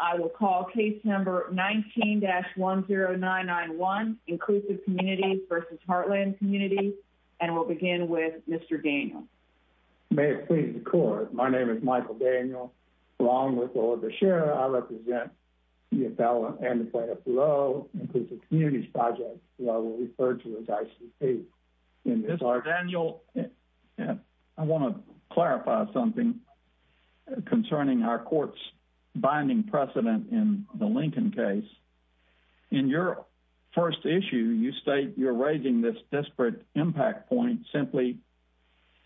I will call case number 19-10991 Inclusive Communities v. Heartland Communities and we'll begin with Mr. Daniel. May it please the court, my name is Michael Daniel, along with Lola Bechera, I represent CFL and the planet below, Inclusive Communities Project, which I will refer to as ICP. Mr. Daniel, I want to clarify something concerning our court's existing precedent in the Lincoln case. In your first issue, you state you're raising this disparate impact point simply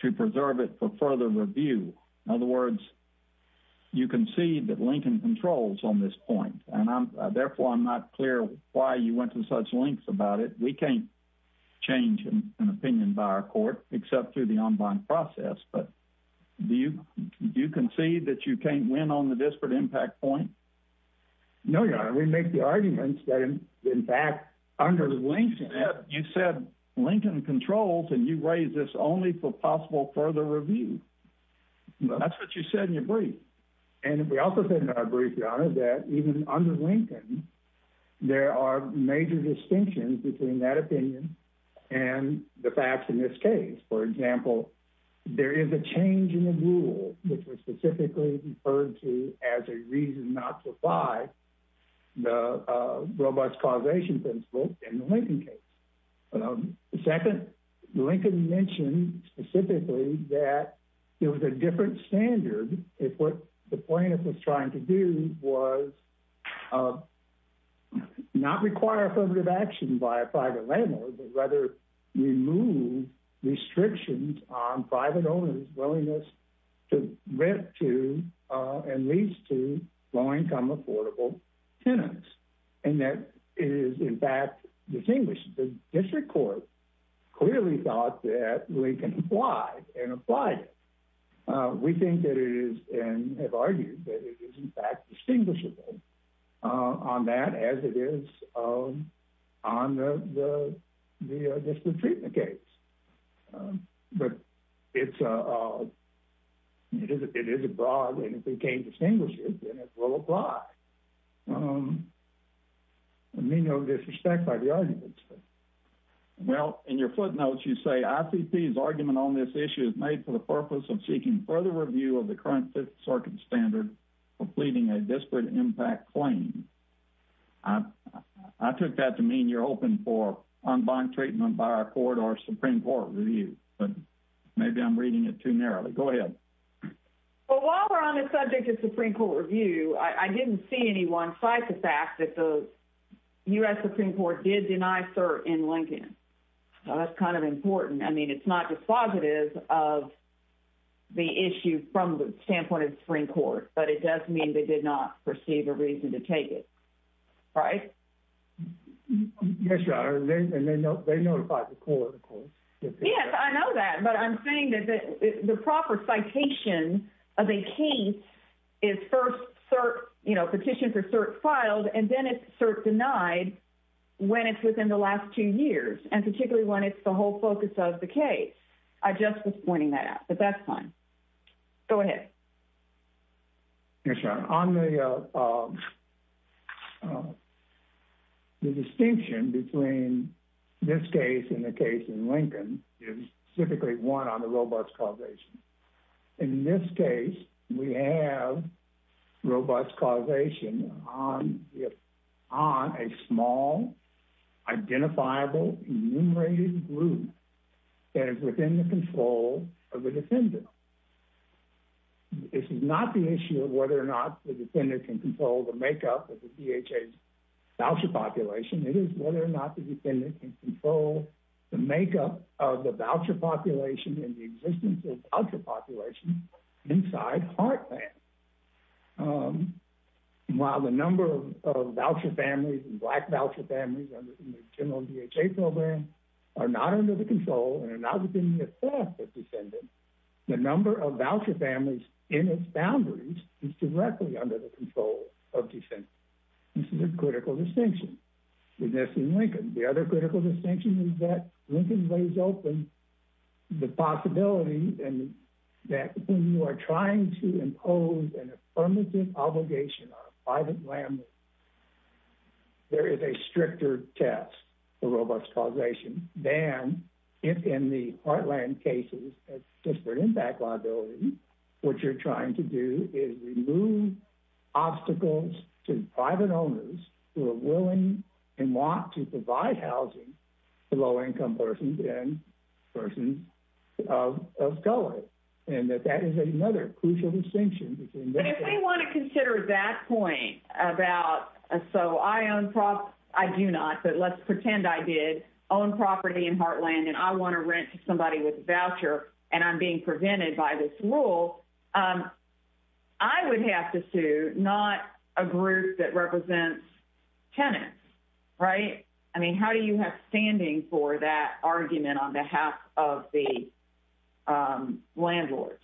to preserve it for further review. In other words, you concede that Lincoln controls on this point, and therefore I'm not clear why you went to such lengths about it. We can't change an opinion by our court, except through the online process, but do you concede that you can't win on the disparate impact point? No, your honor, we make the arguments that in fact, under Lincoln, you said Lincoln controls and you raise this only for possible further review. That's what you said in your brief. And we also said in our brief, your honor, that even under Lincoln, there are major distinctions between that opinion and the facts in this case. For example, there is a change in the rule, which was specifically referred to as a reason not to apply the robust causation principle in the Lincoln case. Second, Lincoln mentioned specifically that there was a different standard if what the plaintiff was trying to do was not require affirmative action by a private landlord, but rather remove restrictions on private owners' willingness to rent to and lease to low-income affordable tenants. And that is in fact distinguished. The district court clearly thought that Lincoln applied and applied it. We think that it is, and have argued that it is in fact distinguishable on that as it is on the disparate treatment case. But it is a broad and if we can't distinguish it, then it will apply. I may know disrespect by the audience. Well, in your footnotes, you say I think these argument on this issue is made for the purpose of seeking further review of the current Fifth Circuit standard, completing a disparate impact claim. I took that to mean you're open for unbond treatment by our court or Supreme Court review, but maybe I'm reading it too narrowly. Go ahead. Well, while we're on the subject of Supreme Court review, I didn't see anyone cite the fact that U.S. Supreme Court did deny cert in Lincoln. That's kind of important. I mean, it's not dispositive of the issue from the standpoint of the Supreme Court, but it does mean they did not perceive a reason to take it, right? Yes, Your Honor, and they notified the court. Yes, I know that, but I'm saying that the proper citation of a case is first cert, you know, petition for cert filed and then it's cert denied when it's within the last two years and particularly when it's the whole focus of the case. I just was pointing that out, but that's fine. Go ahead. Yes, Your Honor. On the distinction between this case and the case in Lincoln is typically one on the robust causation. In this case, we have robust causation on a small, identifiable, enumerated group that is within the control of the defendant. This is not the issue of whether or not the defendant can control the makeup of the DHA's makeup of the voucher population and the existence of the voucher population inside Heartland. While the number of voucher families and Black voucher families in the general DHA program are not under the control and are not within the authority of the defendant, the number of voucher families in its boundaries is directly under the control of the defendant. This is a critical distinction between this and Lincoln. The other critical distinction is that Lincoln lays open the possibility that when you are trying to impose an affirmative obligation on a private landlord, there is a stricter test for robust causation than in the Heartland cases as disparate impact liability. What you're trying to do is remove obstacles to private owners who are willing and want to provide housing to low-income persons and persons of color, and that that is another crucial distinction. But if they want to consider that point about, so I own property, I do not, but let's pretend I did own property in Heartland and I want to rent to somebody with a voucher and I'm being prevented by this rule, I would have to sue not a group that Right? I mean, how do you have standing for that argument on behalf of the landlords?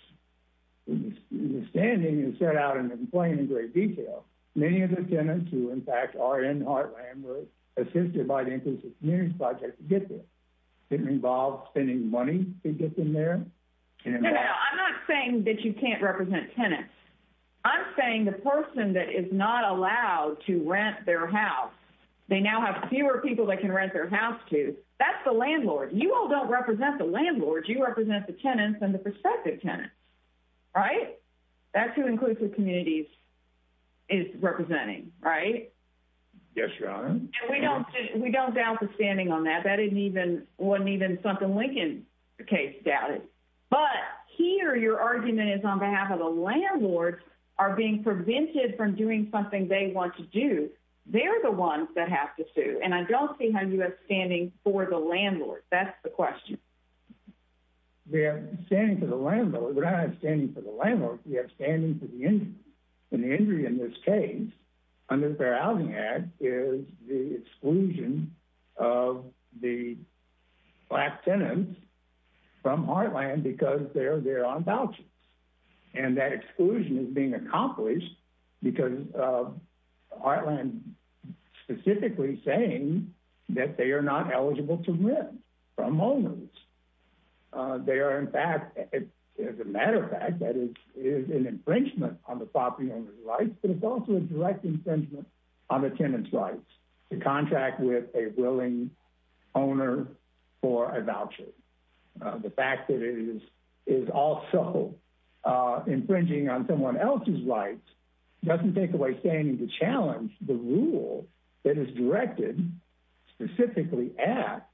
The standing is set out in plain and great detail. Many of the tenants who, in fact, are in Heartland were assisted by the Inclusive Communities Project to get there. It involved spending money to get them there. No, no, I'm not saying that you can't represent tenants. I'm saying the person that is not allowed to rent their house, they now have fewer people they can rent their house to, that's the landlord. You all don't represent the landlord, you represent the tenants and the prospective tenants, right? That's who Inclusive Communities is representing, right? Yes, Your Honor. And we don't doubt the standing on that. That landlords are being prevented from doing something they want to do. They're the ones that have to sue. And I don't see how you have standing for the landlord. That's the question. We have standing for the landlord. We don't have standing for the landlord, we have standing for the injury. And the injury in this case, under the Fair Housing Act, is the exclusion of the black tenants from Heartland because they're on vouchers. And that exclusion is being accomplished because Heartland is specifically saying that they are not eligible to rent from owners. As a matter of fact, that is an infringement on the property owner's rights, but it's also a direct infringement on the tenant's rights to contract with a willing owner for a voucher. The fact that it is also infringing on someone else's rights doesn't take away standing to challenge the rule that is directed specifically at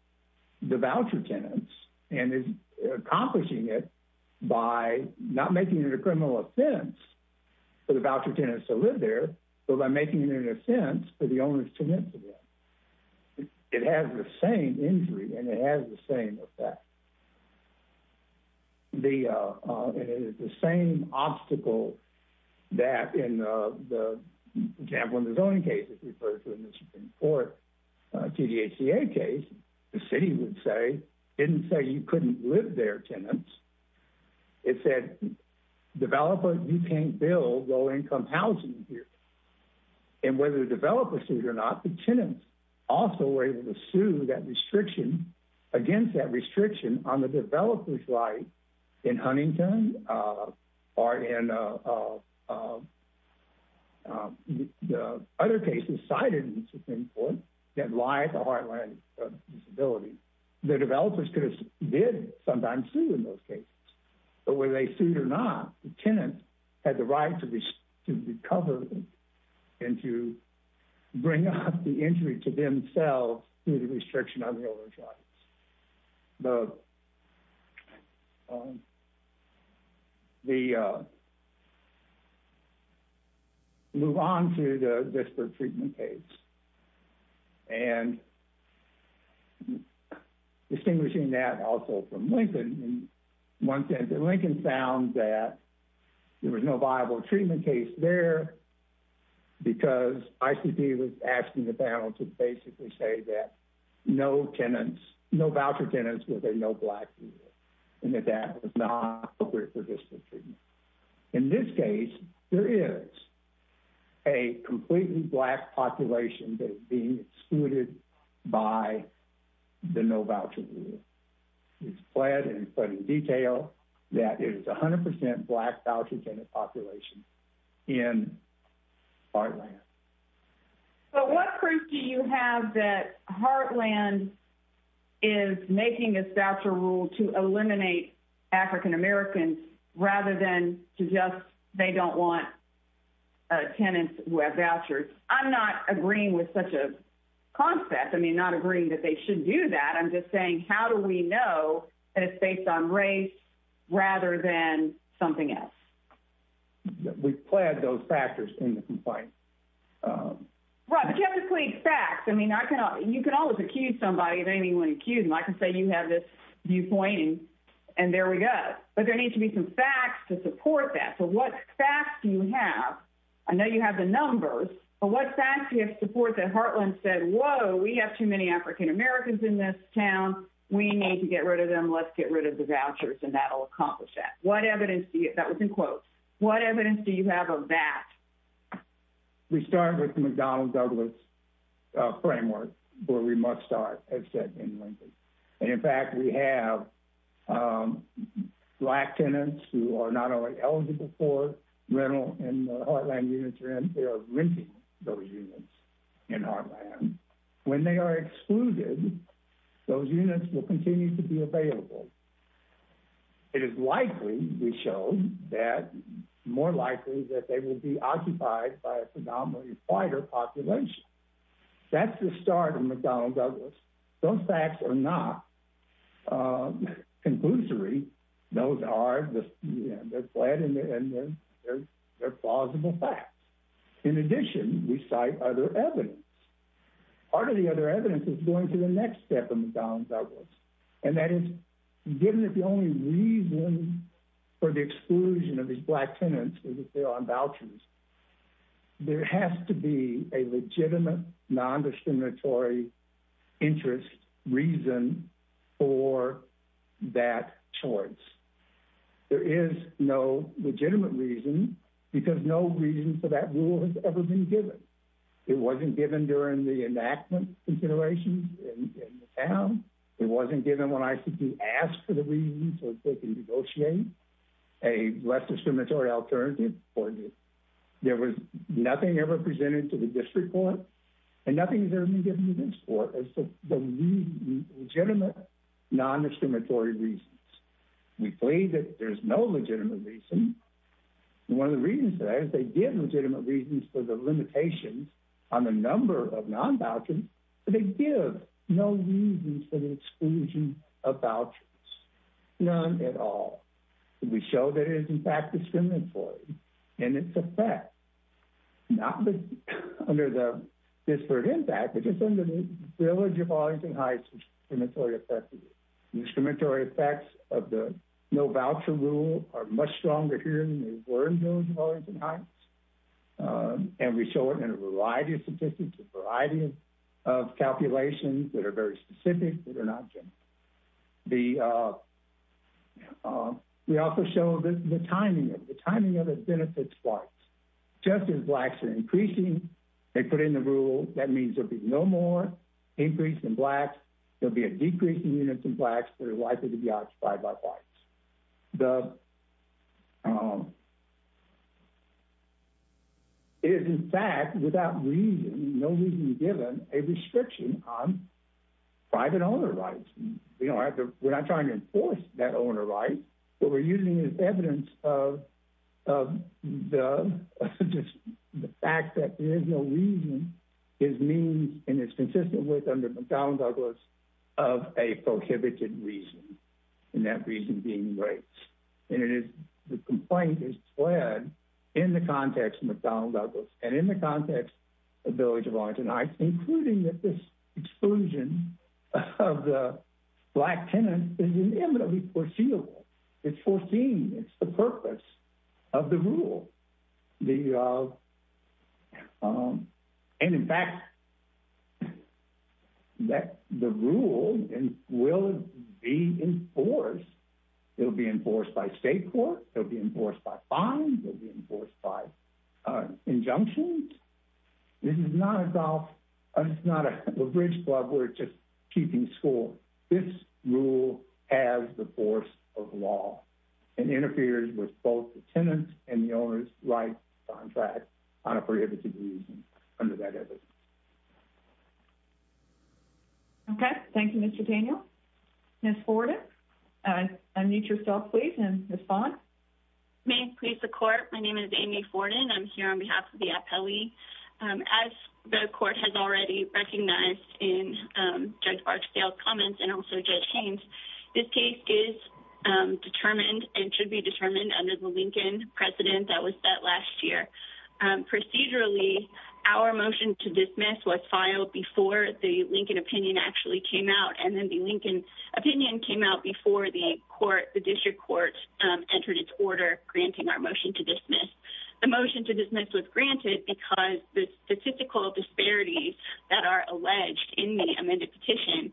the voucher tenants and is accomplishing it by not making it a criminal offense for the voucher tenants to live there, but by making it an offense for the voucher tenants to live there. It has the same injury and it has the same effect. And it is the same obstacle that, in the Jambo and the Zone case, as referred to in the Supreme Court, TDHCA case, the city would say, didn't say you couldn't live there, tenants. It said, developers, you can't build low-income housing here. And whether the developers sued or not, the tenants also were able to sue that restriction, against that restriction, on the developer's right in Huntington or in the other cases cited in the Supreme Court that lied to Heartland's disability. The developers did sometimes sue in those cases, but whether they sued or not, the tenants had the right to recover and to bring up the injury to themselves through the restriction on the owner's rights. Move on to the Vicksburg treatment case. And distinguishing that also from Lincoln, in one sense, Lincoln found that there was no viable treatment case there because ICP was asking the panel to basically say that no tenants, no voucher tenants with a no-black rule, and that that was not appropriate for district treatment. In this case, there is a completely black population that is being excluded by the no-voucher rule. It's flagged and put in detail that it is 100% black voucher tenant population in Heartland. But what proof do you have that Heartland is making this voucher rule to eliminate African-Americans rather than to just, they don't want tenants who have vouchers? I'm not agreeing with such a concept. I'm not agreeing that they should do that. I'm just saying, how do we know that it's based on race rather than something else? We've flagged those factors in the complaint. Right, but you have to include facts. I mean, you can always accuse somebody if anyone accused them. I can say you have this viewpoint, and there we go. But there needs to be some facts to support that. So what facts do you have? I know you have the numbers, but what facts do you have to support that Heartland said, whoa, we have too many African-Americans in this town. We need to get rid of them. Let's get rid of the vouchers, and that'll accomplish that. What evidence do you, that was in quotes, what evidence do you have of that? We start with McDonnell Douglas framework where we must start, as said in Lincoln. And in fact, we have black tenants who are not only for rental in the Heartland units, they are renting those units in Heartland. When they are excluded, those units will continue to be available. It is likely, we show that, more likely that they will be occupied by a predominantly whiter population. That's the start of McDonnell Douglas. Those facts are not conclusory. Those are, they're flat, and they're plausible facts. In addition, we cite other evidence. Part of the other evidence is going to the next step of McDonnell Douglas. And that is, given that the only reason for the exclusion of these black tenants is if they're on vouchers, there has to be a legitimate nondiscriminatory interest reason for that choice. There is no legitimate reason, because no reason for that rule has ever been given. It wasn't given during the enactment considerations in the town. It wasn't given when ICP asked for the reason so they can negotiate a less discriminatory alternative. There was nothing ever presented to the district court, and nothing has ever been given to this court as legitimate nondiscriminatory reasons. We plead that there's no legitimate reason. One of the reasons for that is they give legitimate reasons for the limitations on the number of non-vouchers, but they give no reason for the exclusion of vouchers. None at all. We show that it is in fact discriminatory in its effect, not under the disparate impact, but just under the village of Arlington Heights discriminatory effect. The discriminatory effects of the no voucher rule are much stronger here than they were in the village of Arlington Heights, and we show it in a variety of statistics, a variety of calculations that are very specific, that are not general. We also show the timing of it. The timing of it benefits whites. Just as blacks are increasing, they put in the rule, that means there will be no more increase in blacks, there will be a decrease in units of blacks that are likely to be occupied by whites. It is in fact, without reason, no reason given, a restriction on private owner rights. We're not trying to enforce that owner right. What we're using is evidence of the fact that there is no reason is means, and it's consistent with under McDonnell Douglas, of a prohibited reason, and that reason being race. The complaint is fled in the context of McDonnell Douglas, and in the context of the village of Arlington Heights, including that this exclusion of the black tenant is inevitably foreseeable. It's foreseen, it's the purpose of the rule. In fact, the rule will be enforced. It'll be enforced by state court, it'll be enforced by fines, it'll be enforced by injunctions. This is not a golf, it's not a bridge club where it's just keeping score. This rule has the force of law, and interferes with both the tenant and the owner's right to contract on a prohibited reason. Okay, thank you, Mr. Daniel. Ms. Forden, unmute yourself, please, and respond. May it please the court, my name is Amy Forden, I'm here on behalf of the APELI. As the court has already recognized in Judge Barksdale's comments, and also Judge Haynes, this case is determined and should be determined under the Lincoln precedent that was set last year. Procedurally, our motion to dismiss was filed before the Lincoln opinion actually came out, and then the Lincoln opinion came out before the court, the district court entered its order, granting our motion to dismiss. The motion to dismiss was granted because the statistical disparities that are alleged in the amended petition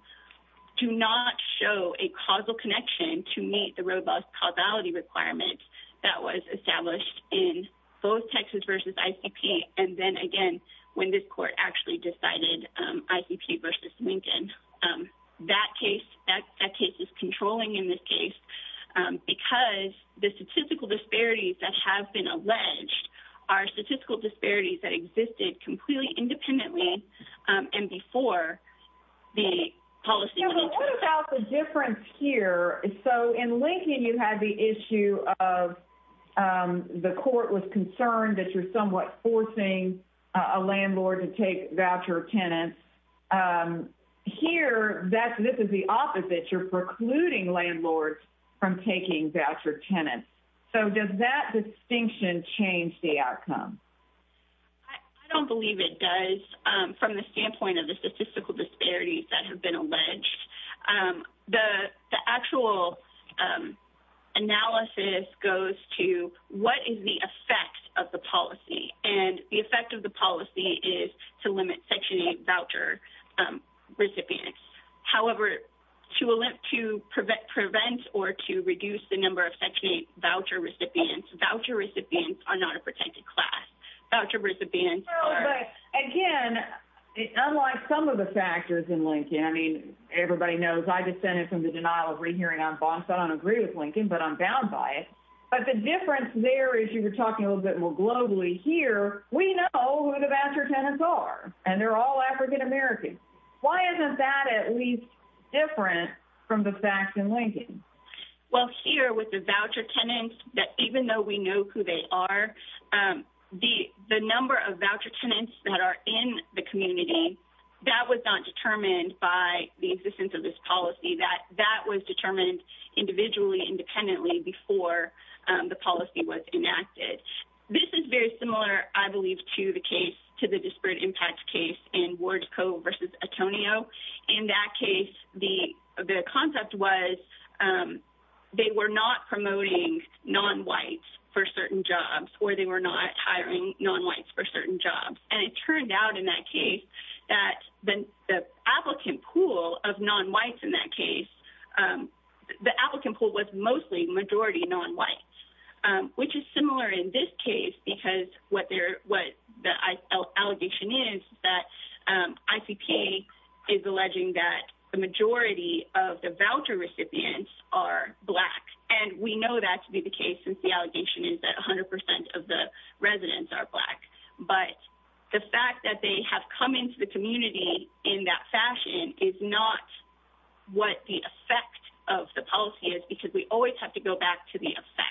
do not show a causal connection to meet the robust causality requirements that was established in both Texas versus ICP, and then again, when this court actually decided ICP versus Lincoln. That case is controlling in this case, because the statistical disparities that have been alleged are statistical disparities that existed completely independently, and before the policy. So what about the difference here? So in Lincoln, you had the issue of the court was concerned that you're somewhat forcing a landlord to take voucher tenants. Here, this is the opposite, you're precluding landlords from taking voucher tenants. So does that distinction change the outcome? I don't believe it does from the standpoint of the statistical disparities that have been alleged. The actual analysis goes to what is the effect of the policy, and the effect of the policy is to limit Section 8 voucher recipients. However, to prevent or to reduce the number of Section 8 voucher recipients. Again, unlike some of the factors in Lincoln, I mean, everybody knows I descended from the denial of rehearing on bonds. I don't agree with Lincoln, but I'm bound by it. But the difference there is you were talking a little bit more globally. Here, we know who the voucher tenants are, and they're all African American. Why isn't that at least different from the facts in Lincoln? Well, here with the voucher tenants, even though we know who they are, the number of voucher tenants that are in the community, that was not determined by the existence of this policy. That was determined individually, independently before the policy was enacted. This is very similar, I believe, to the case, to the disparate impact case in Wardco versus Antonio. In that case, the concept was that they were not promoting non-whites for certain jobs, or they were not hiring non-whites for certain jobs. It turned out in that case that the applicant pool of non-whites in that case, the applicant pool was mostly majority non-whites, which is similar in this case, because what the allegation is that ICP is alleging that the majority of the voucher recipients are black. We know that to be the case, since the allegation is that 100 percent of the residents are black. But the fact that they have come into the community in that fashion is not what the effect of the policy is, because we always have to go back to the effect.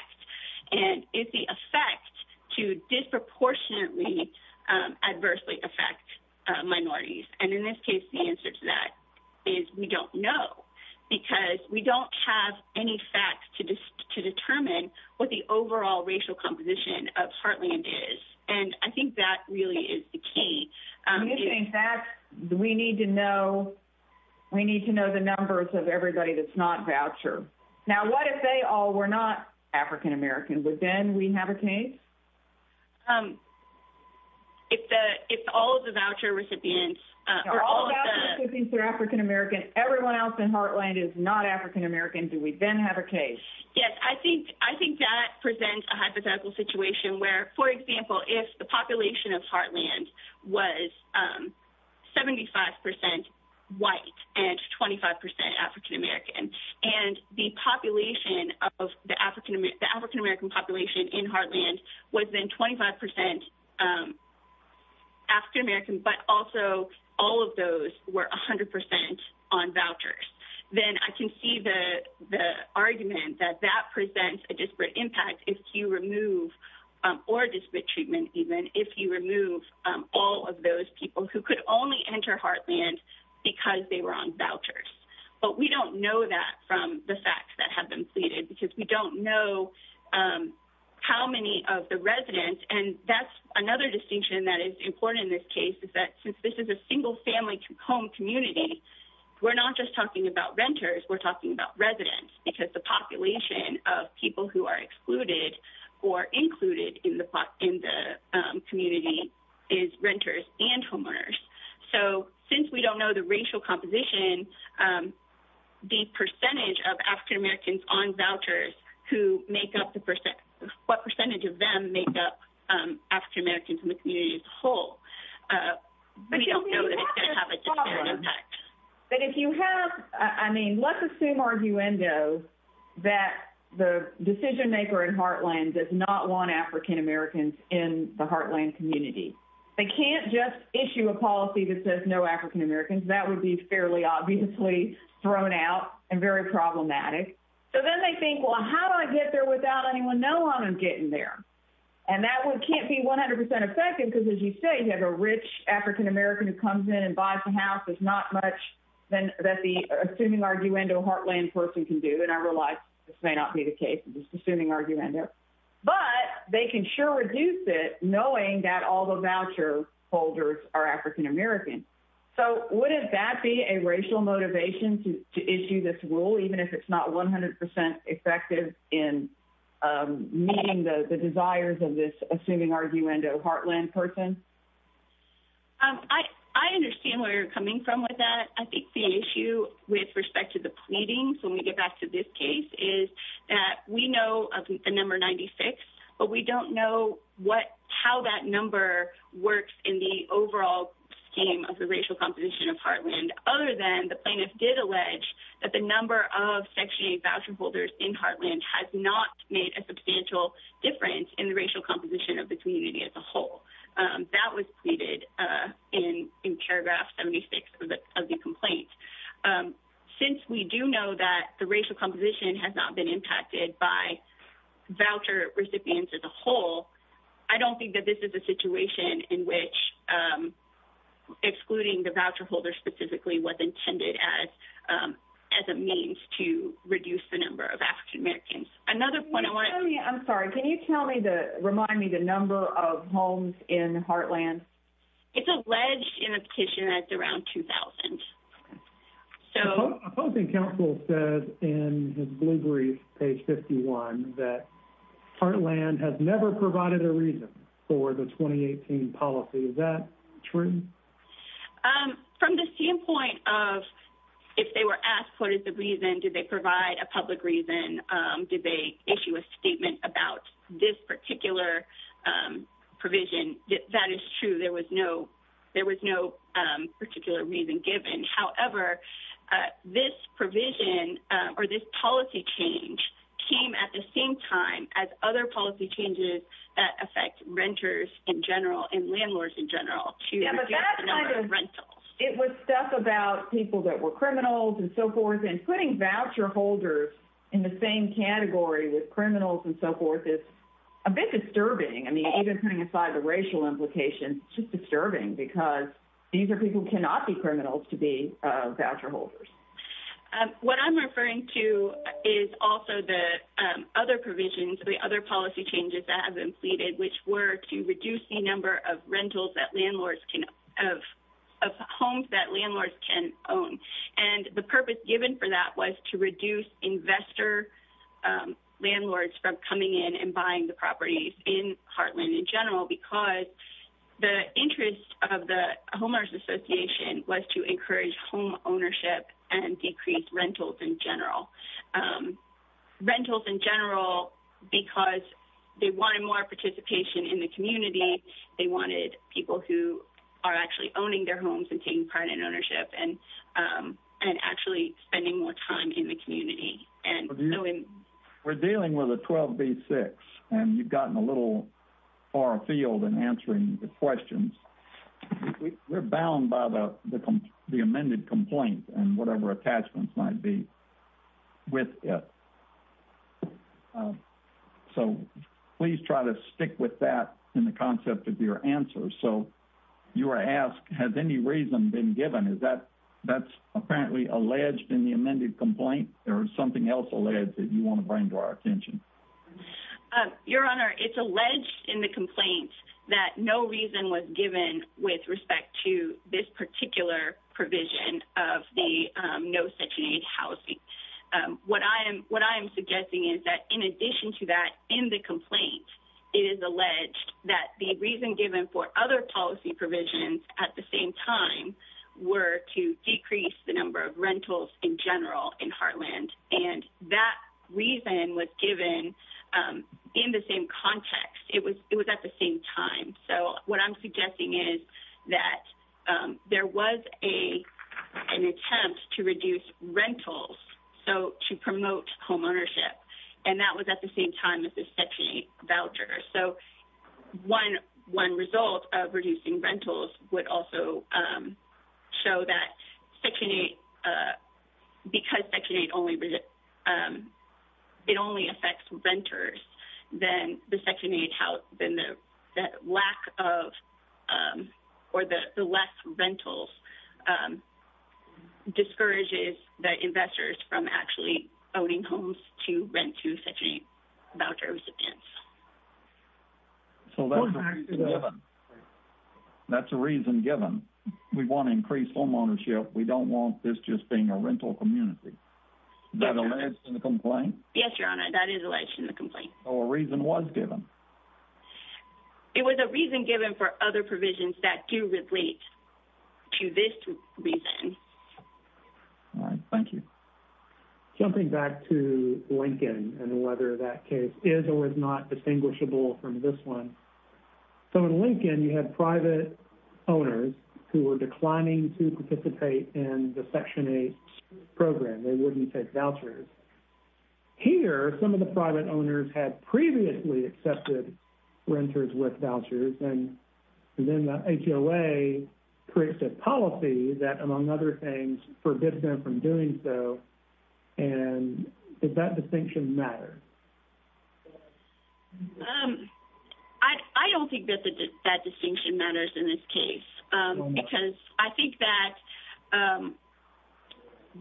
It's the effect to disproportionately, adversely affect minorities. In this case, the answer to that is we don't know, because we don't have any facts to determine what the overall racial composition of Heartland is. I think that really is the key. We need to know the numbers of African-Americans. Do we then have a case? If all of the voucher recipients are African-American, everyone else in Heartland is not African-American, do we then have a case? Yes. I think that presents a hypothetical situation where, for example, if the population of Heartland was 75 percent white and 25 percent African-American, and the African-American population in Heartland was then 25 percent African-American, but also all of those were 100 percent on vouchers, then I can see the argument that that presents a disparate impact if you remove all of those people who could only enter Heartland because they were on vouchers. But we don't know that from the facts that have been pleaded, because we don't know how many of the residents, and that's another distinction that is important in this case, is that since this is a single-family home community, we're not just talking about renters, we're talking about residents, because the population of people who are excluded or excluded is renters and homeowners. So, since we don't know the racial composition, the percentage of African-Americans on vouchers, what percentage of them make up African-Americans in the community as a whole, we don't know that it's going to have a disparate impact. But if you have, I mean, let's assume, arguendo, that the decision-maker in Heartland does not want African-Americans in the Heartland community. They can't just issue a policy that says no African-Americans. That would be fairly obviously thrown out and very problematic. So, then they think, well, how do I get there without anyone knowing I'm getting there? And that one can't be 100 percent effective, because as you say, you have a rich African-American who comes in and buys a house. There's not much that the assuming arguendo Heartland person can do, and I realize this may not be the case, just assuming arguendo, but they can sure reduce it knowing that all the voucher holders are African-American. So, wouldn't that be a racial motivation to issue this rule, even if it's not 100 percent effective in meeting the desires of this assuming arguendo Heartland person? I understand where you're coming from with that. I think the issue with respect to the pleadings, when we get back to this case, is that we know of the number 96, but we don't know how that number works in the overall scheme of the racial composition of Heartland, other than the plaintiffs did allege that the number of Section 8 voucher holders in Heartland has not made a substantial difference in the racial composition of the community as a whole. That was pleaded in paragraph 76 of the complaint. Since we do know that the racial composition has not been impacted by voucher recipients as a whole, I don't think that this is a situation in which excluding the voucher holders specifically was intended as a means to reduce the number of African-Americans. Another point. I'm sorry. Can you remind me the number of homes in Heartland? It's alleged in a petition that it's around 2,000. Opposing counsel says in his blue brief, page 51, that Heartland has never provided a reason for the 2018 policy. Is that true? From the standpoint of if they were asked did they provide a public reason, did they issue a statement about this particular provision, that is true. There was no particular reason given. However, this provision or this policy change came at the same time as other policy changes that affect renters in general and landlords in general to reduce the number of rentals. It was stuff about people that were criminals and so forth and putting voucher holders in the same category with criminals and so forth is a bit disturbing. Even putting aside the racial implication, it's disturbing because these are people who cannot be criminals to be voucher holders. What I'm referring to is also the other provisions, the other policy changes that have which were to reduce the number of rentals of homes that landlords can own. The purpose given for that was to reduce investor landlords from coming in and buying the properties in Heartland in general because the interest of the homeowners association was to encourage home ownership and participation in the community. They wanted people who are actually owning their homes and taking part in ownership and actually spending more time in the community. We're dealing with a 12B6 and you've gotten a little far afield in answering the questions. We're bound by the amended complaint and whatever attachments might be with it. So, please try to stick with that in the concept of your answer. So, you were asked, has any reason been given? Is that apparently alleged in the amended complaint or something else alleged that you want to bring to our attention? Your Honor, it's alleged in the complaint that no reason was given with respect to this particular provision of the no section 8 housing. What I'm suggesting is that in addition to that in the complaint, it is alleged that the reason given for other policy provisions at the same time were to decrease the number of rentals in general in Heartland. And that reason was given in the same context. It was at the same time. So, what I'm suggesting is that there was an attempt to reduce rentals. So, to promote homeownership. And that was at the same time as the section 8 voucher. So, one result of reducing rentals would also show that section 8, because section 8 only affects renters, then the section 8, the lack of or the less rentals discourages the investors from actually owning homes to rent to section 8 voucher recipients. So, that's a reason given. We want to increase homeownership. We don't want this just being a community. Is that alleged in the complaint? Yes, Your Honor. That is alleged in the complaint. So, a reason was given? It was a reason given for other provisions that do relate to this reason. All right. Thank you. Jumping back to Lincoln and whether that case is or is not distinguishable from this one. So, in Lincoln, you had private owners who were declining to participate in the section 8 program. They wouldn't take vouchers. Here, some of the private owners had previously accepted renters with vouchers. And then the HOA creates a policy that, among other things, forbids them from doing so. And does that distinction matter? I don't think that that distinction matters in this case, because I think that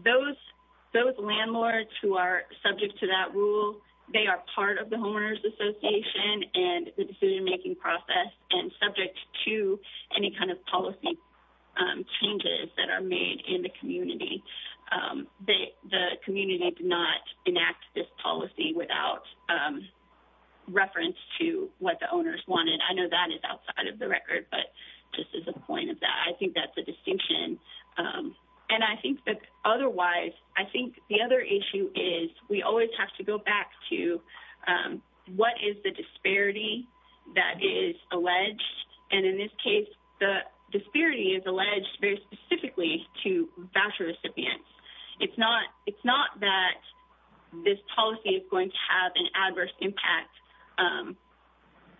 those landlords who are subject to that rule, they are part of the homeowners association and the decision-making process and subject to any kind of policy changes that are made in the community. The community did not enact this policy without reference to what the owners wanted. I know that is outside of the record, but just as a point of that, I think that's a distinction. And I think that otherwise, I think the other issue is we always have to go back to what is the disparity that is alleged. And in this case, the disparity is alleged very specifically to voucher recipients. It's not that this policy is going to have an adverse impact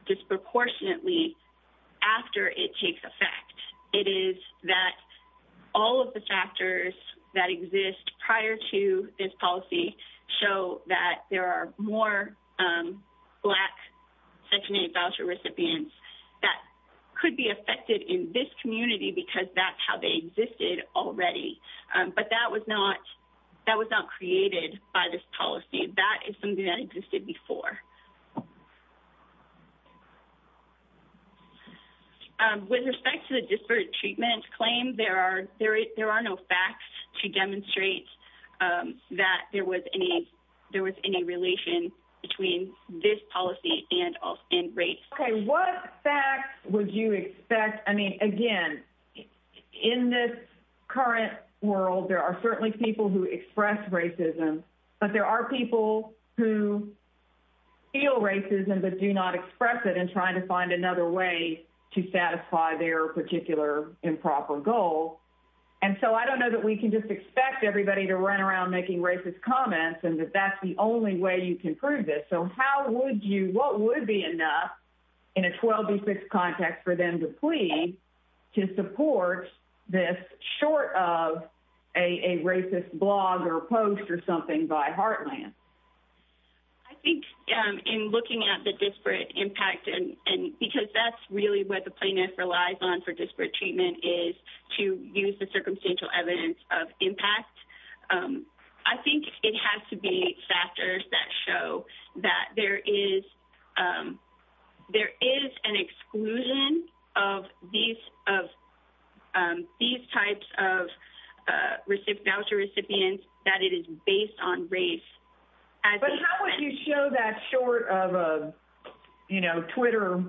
disproportionately after it takes effect. It is that all of the factors that exist prior to this policy show that there are more black section 8 voucher recipients that could be affected in this already. But that was not created by this policy. That is something that existed before. With respect to the disparate treatment claim, there are no facts to demonstrate that there was any relation between this policy and rape. What facts would you expect? Again, in this current world, there are certainly people who express racism, but there are people who feel racism but do not express it in trying to find another way to satisfy their particular improper goal. And so I don't know that we can just expect everybody to run around making racist comments and that that's the only way you can prove this. How would you, what would be enough in a 12-6 context for them to plead to support this short of a racist blog or post or something by Heartland? I think in looking at the disparate impact, because that's really what the plaintiff relies on for disparate treatment is to use the circumstantial evidence of impact. I think it has to be factors that show that there is an exclusion of these types of voucher recipients that it is based on race. But how would you show that short of a Twitter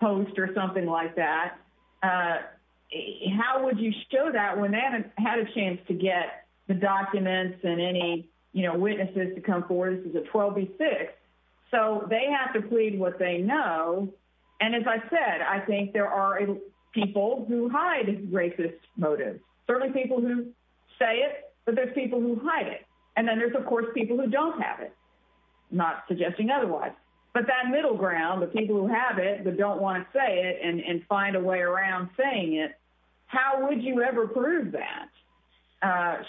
post or something like that? How would you show that when they hadn't had a chance to get the documents and any witnesses to come forward? This is a 12-6. So they have to plead what they know. And as I said, I think there are people who hide racist motives. Certainly people who say it, but there's people who hide it. And then there's of course people who don't have it, not suggesting otherwise. But that middle ground, the people who have it, but don't want to say it and find a way around saying it, how would you ever prove that?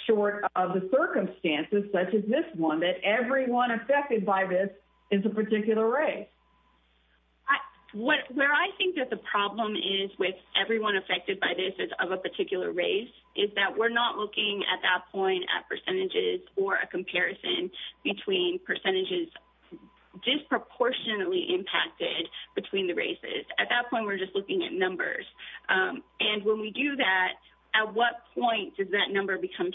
Short of the circumstances such as this one, that everyone affected by this is a particular race? Where I think that the problem is with everyone affected by this is of a particular race, is that we're not looking at that point at percentages or a comparison between percentages disproportionately impacted between the races. At that point, we're just looking at numbers. And when we do that, at what point does that number become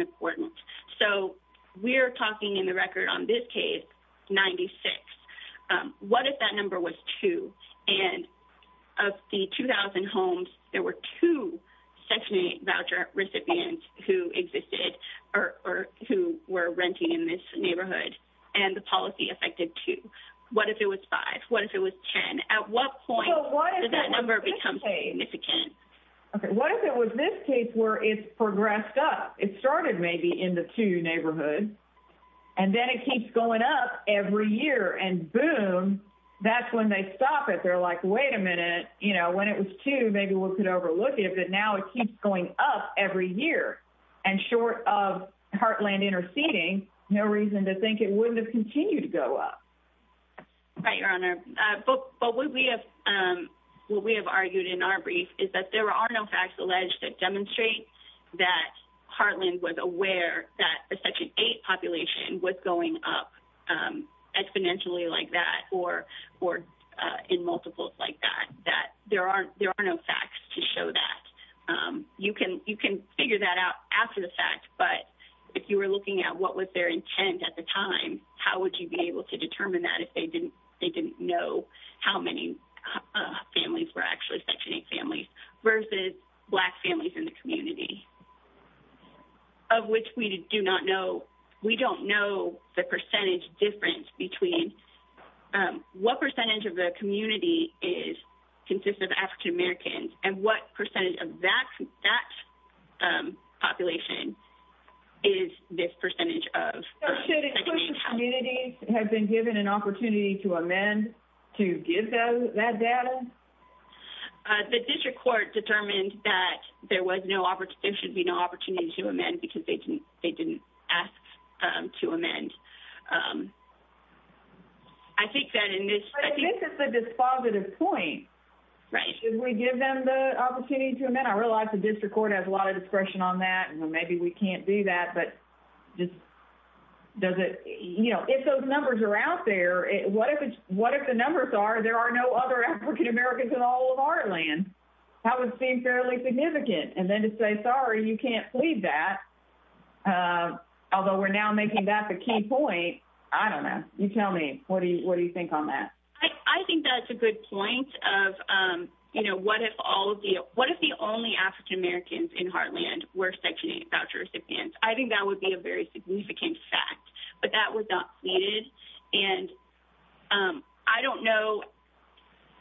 important? So we're talking in the record on this case, 96. What if that number was two and of the 2,000 homes, there were two Section 8 voucher recipients who existed or who were renting in this neighborhood and the policy affected two? What if it was five? What if it was 10? At what point does that number become significant? What if it was this case where it's progressed up? It started maybe in the two neighborhoods and then it keeps going up every year and boom, that's when they stop it. They're like, wait a minute, when it was two, maybe we could overlook it. But now it keeps going up every year and short of Heartland interceding, no reason to think it wouldn't continue to go up. What we have argued in our brief is that there are no facts alleged that demonstrate that Heartland was aware that the Section 8 population was going up exponentially like that or in multiples like that. There are no facts to show that. You can figure that out after the fact, but if you were looking at what was their intent at the time, how would you be able to determine that if they didn't know how many families were actually Section 8 families versus black families in the community? Of which we do not know. We don't know the percentage difference between what percentage of the community consists of African Americans and what percentage of that population is this percentage of. So should exclusive communities have been given an opportunity to amend to give them that data? The district court determined that there should be no opportunity to amend because they didn't ask to amend. This is a dispositive point. Should we give them the opportunity to amend? I realize the district court has a lot of discretion on that and maybe we can't do that. But if those numbers are out there, what if the numbers are there are no other African Americans in all of Heartland? That would seem fairly significant. And then to say, sorry, you can't do that. Although we're now making that the key point, I don't know. You tell me, what do you think on that? I think that's a good point of what if the only African Americans in Heartland were Section 8 voucher recipients? I think that would be a very significant fact, but that was not pleaded. And I don't know.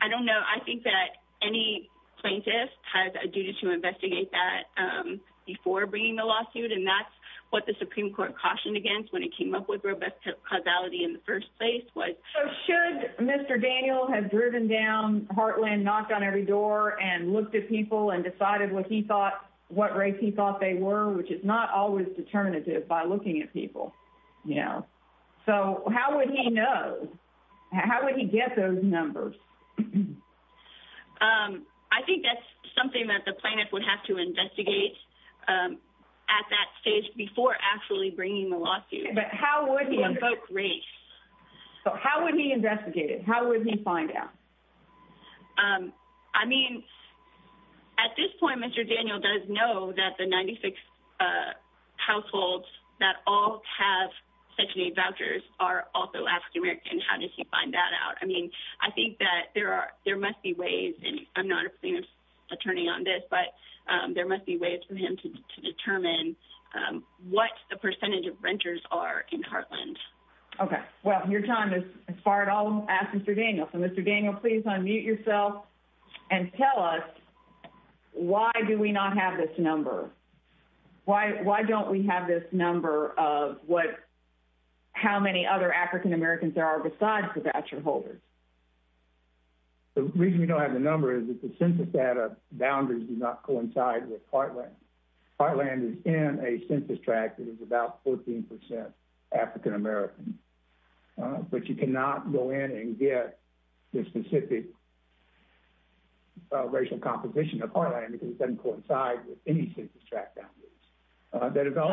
I think that any plaintiff has a duty to investigate that before bringing the lawsuit. And that's what the Supreme Court cautioned against when it came up with robust causality in the first place. So should Mr. Daniel have driven down Heartland, knocked on every door and looked at people and decided what he thought, what race he thought they were, which is not always determinative by looking at people. So how would he know? How would he get those numbers? Um, I think that's something that the plaintiff would have to investigate at that stage before actually bringing the lawsuit. But how would he invoke race? How would he investigate it? How would he find out? I mean, at this point, Mr. Daniel does know that the 96 households that all have Section 8 vouchers are also African American. How does he find that out? I mean, I think that there must be ways, and I'm not a plaintiff's attorney on this, but there must be ways for him to determine what the percentage of renters are in Heartland. Okay. Well, your time has expired. I'll ask Mr. Daniel. So Mr. Daniel, please unmute yourself and tell us why do we not have this number? Why don't we have this number of what, how many other African Americans there are besides the voucher holders? The reason we don't have the number is that the census data boundaries do not coincide with Heartland. Heartland is in a census tract that is about 14% African American. But you cannot go in and get the specific racial composition of Heartland because it doesn't coincide with any census tract boundaries.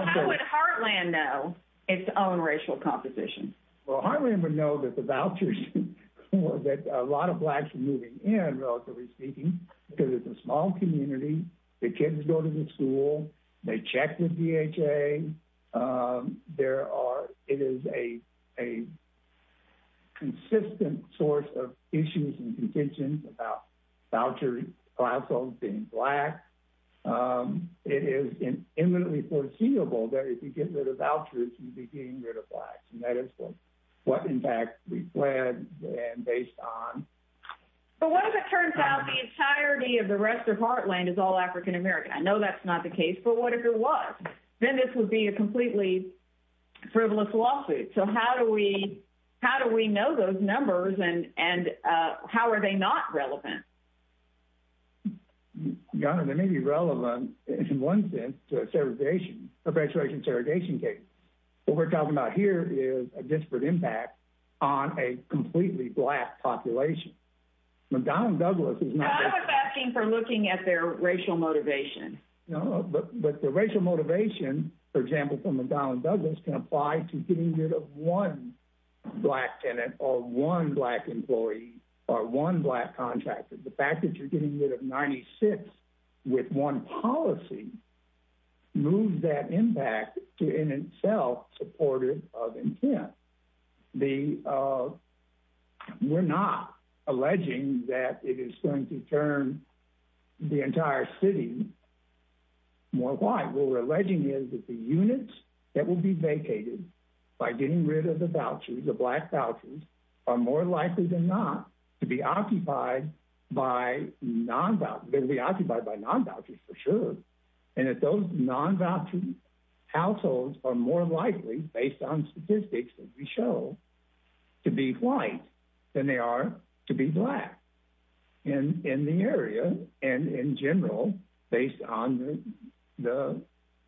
How would Heartland know its own racial composition? Well, Heartland would know that the vouchers that a lot of Blacks are moving in, relatively speaking, because it's a small community. The kids go to the school. They check with DHA. It is a consistent source of issues and contentions about vouchers being Black. It is imminently foreseeable that if you get rid of vouchers, you'll be getting rid of Blacks, and that is what, in fact, we plan based on. But what if it turns out the entirety of the rest of Heartland is all African American? I know that's not the case, but what if it was? Then this would be a completely frivolous lawsuit. So how do we know those numbers, and how are they not relevant? Donna, they may be relevant in one sense to a segregation, a racial segregation case. What we're talking about here is a disparate impact on a completely Black population. But Donald Douglas is not... I'm not asking for looking at their racial motivation. No, but the racial motivation, for example, from a Donald Douglas can apply to getting rid of one Black tenant or one Black employee or one Black contractor. The fact that you're getting rid of 96 with one policy moves that impact to, in itself, supportive of intent. We're not more white. What we're alleging is that the units that will be vacated by getting rid of the vouchers, the Black vouchers, are more likely than not to be occupied by non-vouchers. They'll be occupied by non-vouchers for sure. And if those non-voucher households are more likely, based on statistics that we show, to be white than they are to be Black in the area and in general, based on the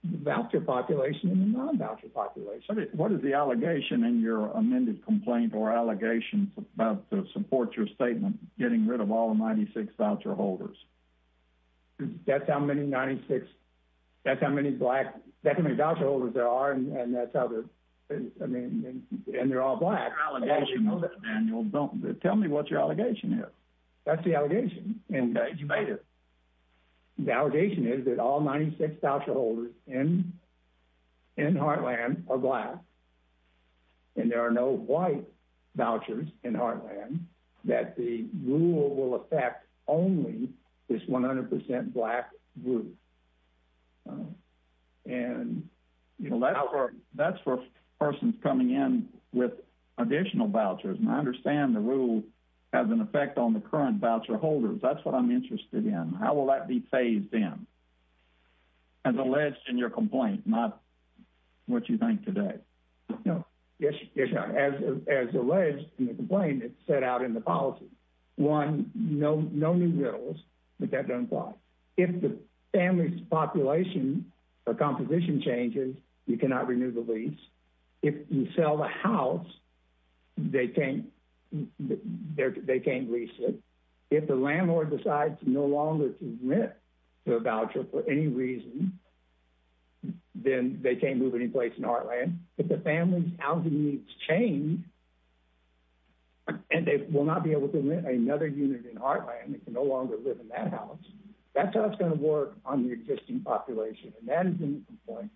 voucher population and the non-voucher population. What is the allegation in your amended complaint or allegations about to support your statement getting rid of all 96 voucher holders? That's how many voucher holders there are, and they're all Black. That's your allegation, Mr. Daniels. Tell me what your allegation is. That's the allegation. You made it. The allegation is that all 96 voucher holders in Heartland are Black, and there are no white vouchers in Heartland, that the rule will affect only this 100% Black group. That's for persons coming in with additional vouchers. I understand the rule has an effect on the current voucher holders. That's what I'm interested in. How will that be phased in, as alleged in your complaint, not what you think today? Yes, as alleged in the complaint, it's set out in the policy. One, no new rules, but that doesn't apply. If the family's population or composition changes, you cannot renew the lease. If you sell the house, they can't lease it. If the landlord decides no longer to rent to a voucher for any reason, then they can't move any place in Heartland. If the family's housing needs change, and they will not be able to rent another unit in Heartland, they can no longer live in that house, that's how it's going to work on the existing population. That's in the complaint,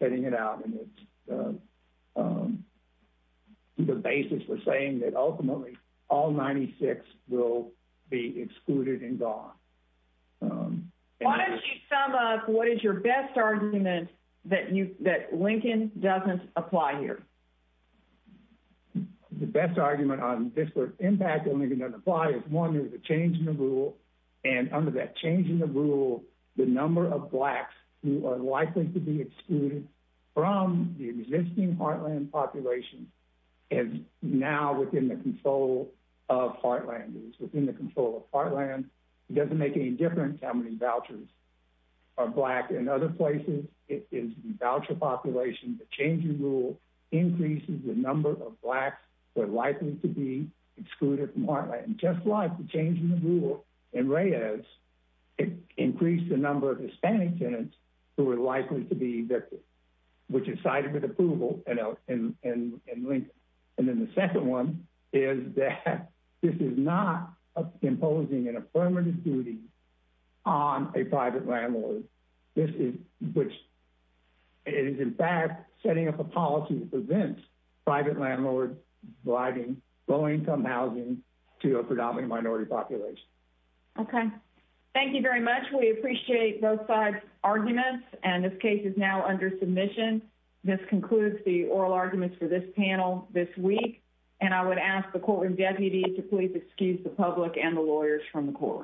setting it out, and it's the basis for saying that ultimately, all 96 will be excluded and gone. Why don't you sum up what is your best argument that Lincoln doesn't apply here? The best argument on disparate impact that Lincoln doesn't apply is, one, there's a change in the rule. The number of Blacks who are likely to be excluded from the existing Heartland population is now within the control of Heartland. It's within the control of Heartland. It doesn't make any difference how many vouchers are Black. In other places, it is the voucher population. The change in rule increases the number of Blacks who are likely to be excluded from Heartland, just like the change in the rule in Reyes increased the number of Hispanic tenants who were likely to be evicted, which is cited with approval in Lincoln. And then the second one is that this is not imposing an affirmative duty on a private landlord, which is, in fact, setting up a policy that prevents private landlords providing low-income housing to a predominant minority population. Okay. Thank you very much. We appreciate both sides' arguments, and this case is now under submission. This concludes the oral arguments for this panel this week, and I would ask the courtroom deputies to please excuse the public and the lawyers from the courtroom.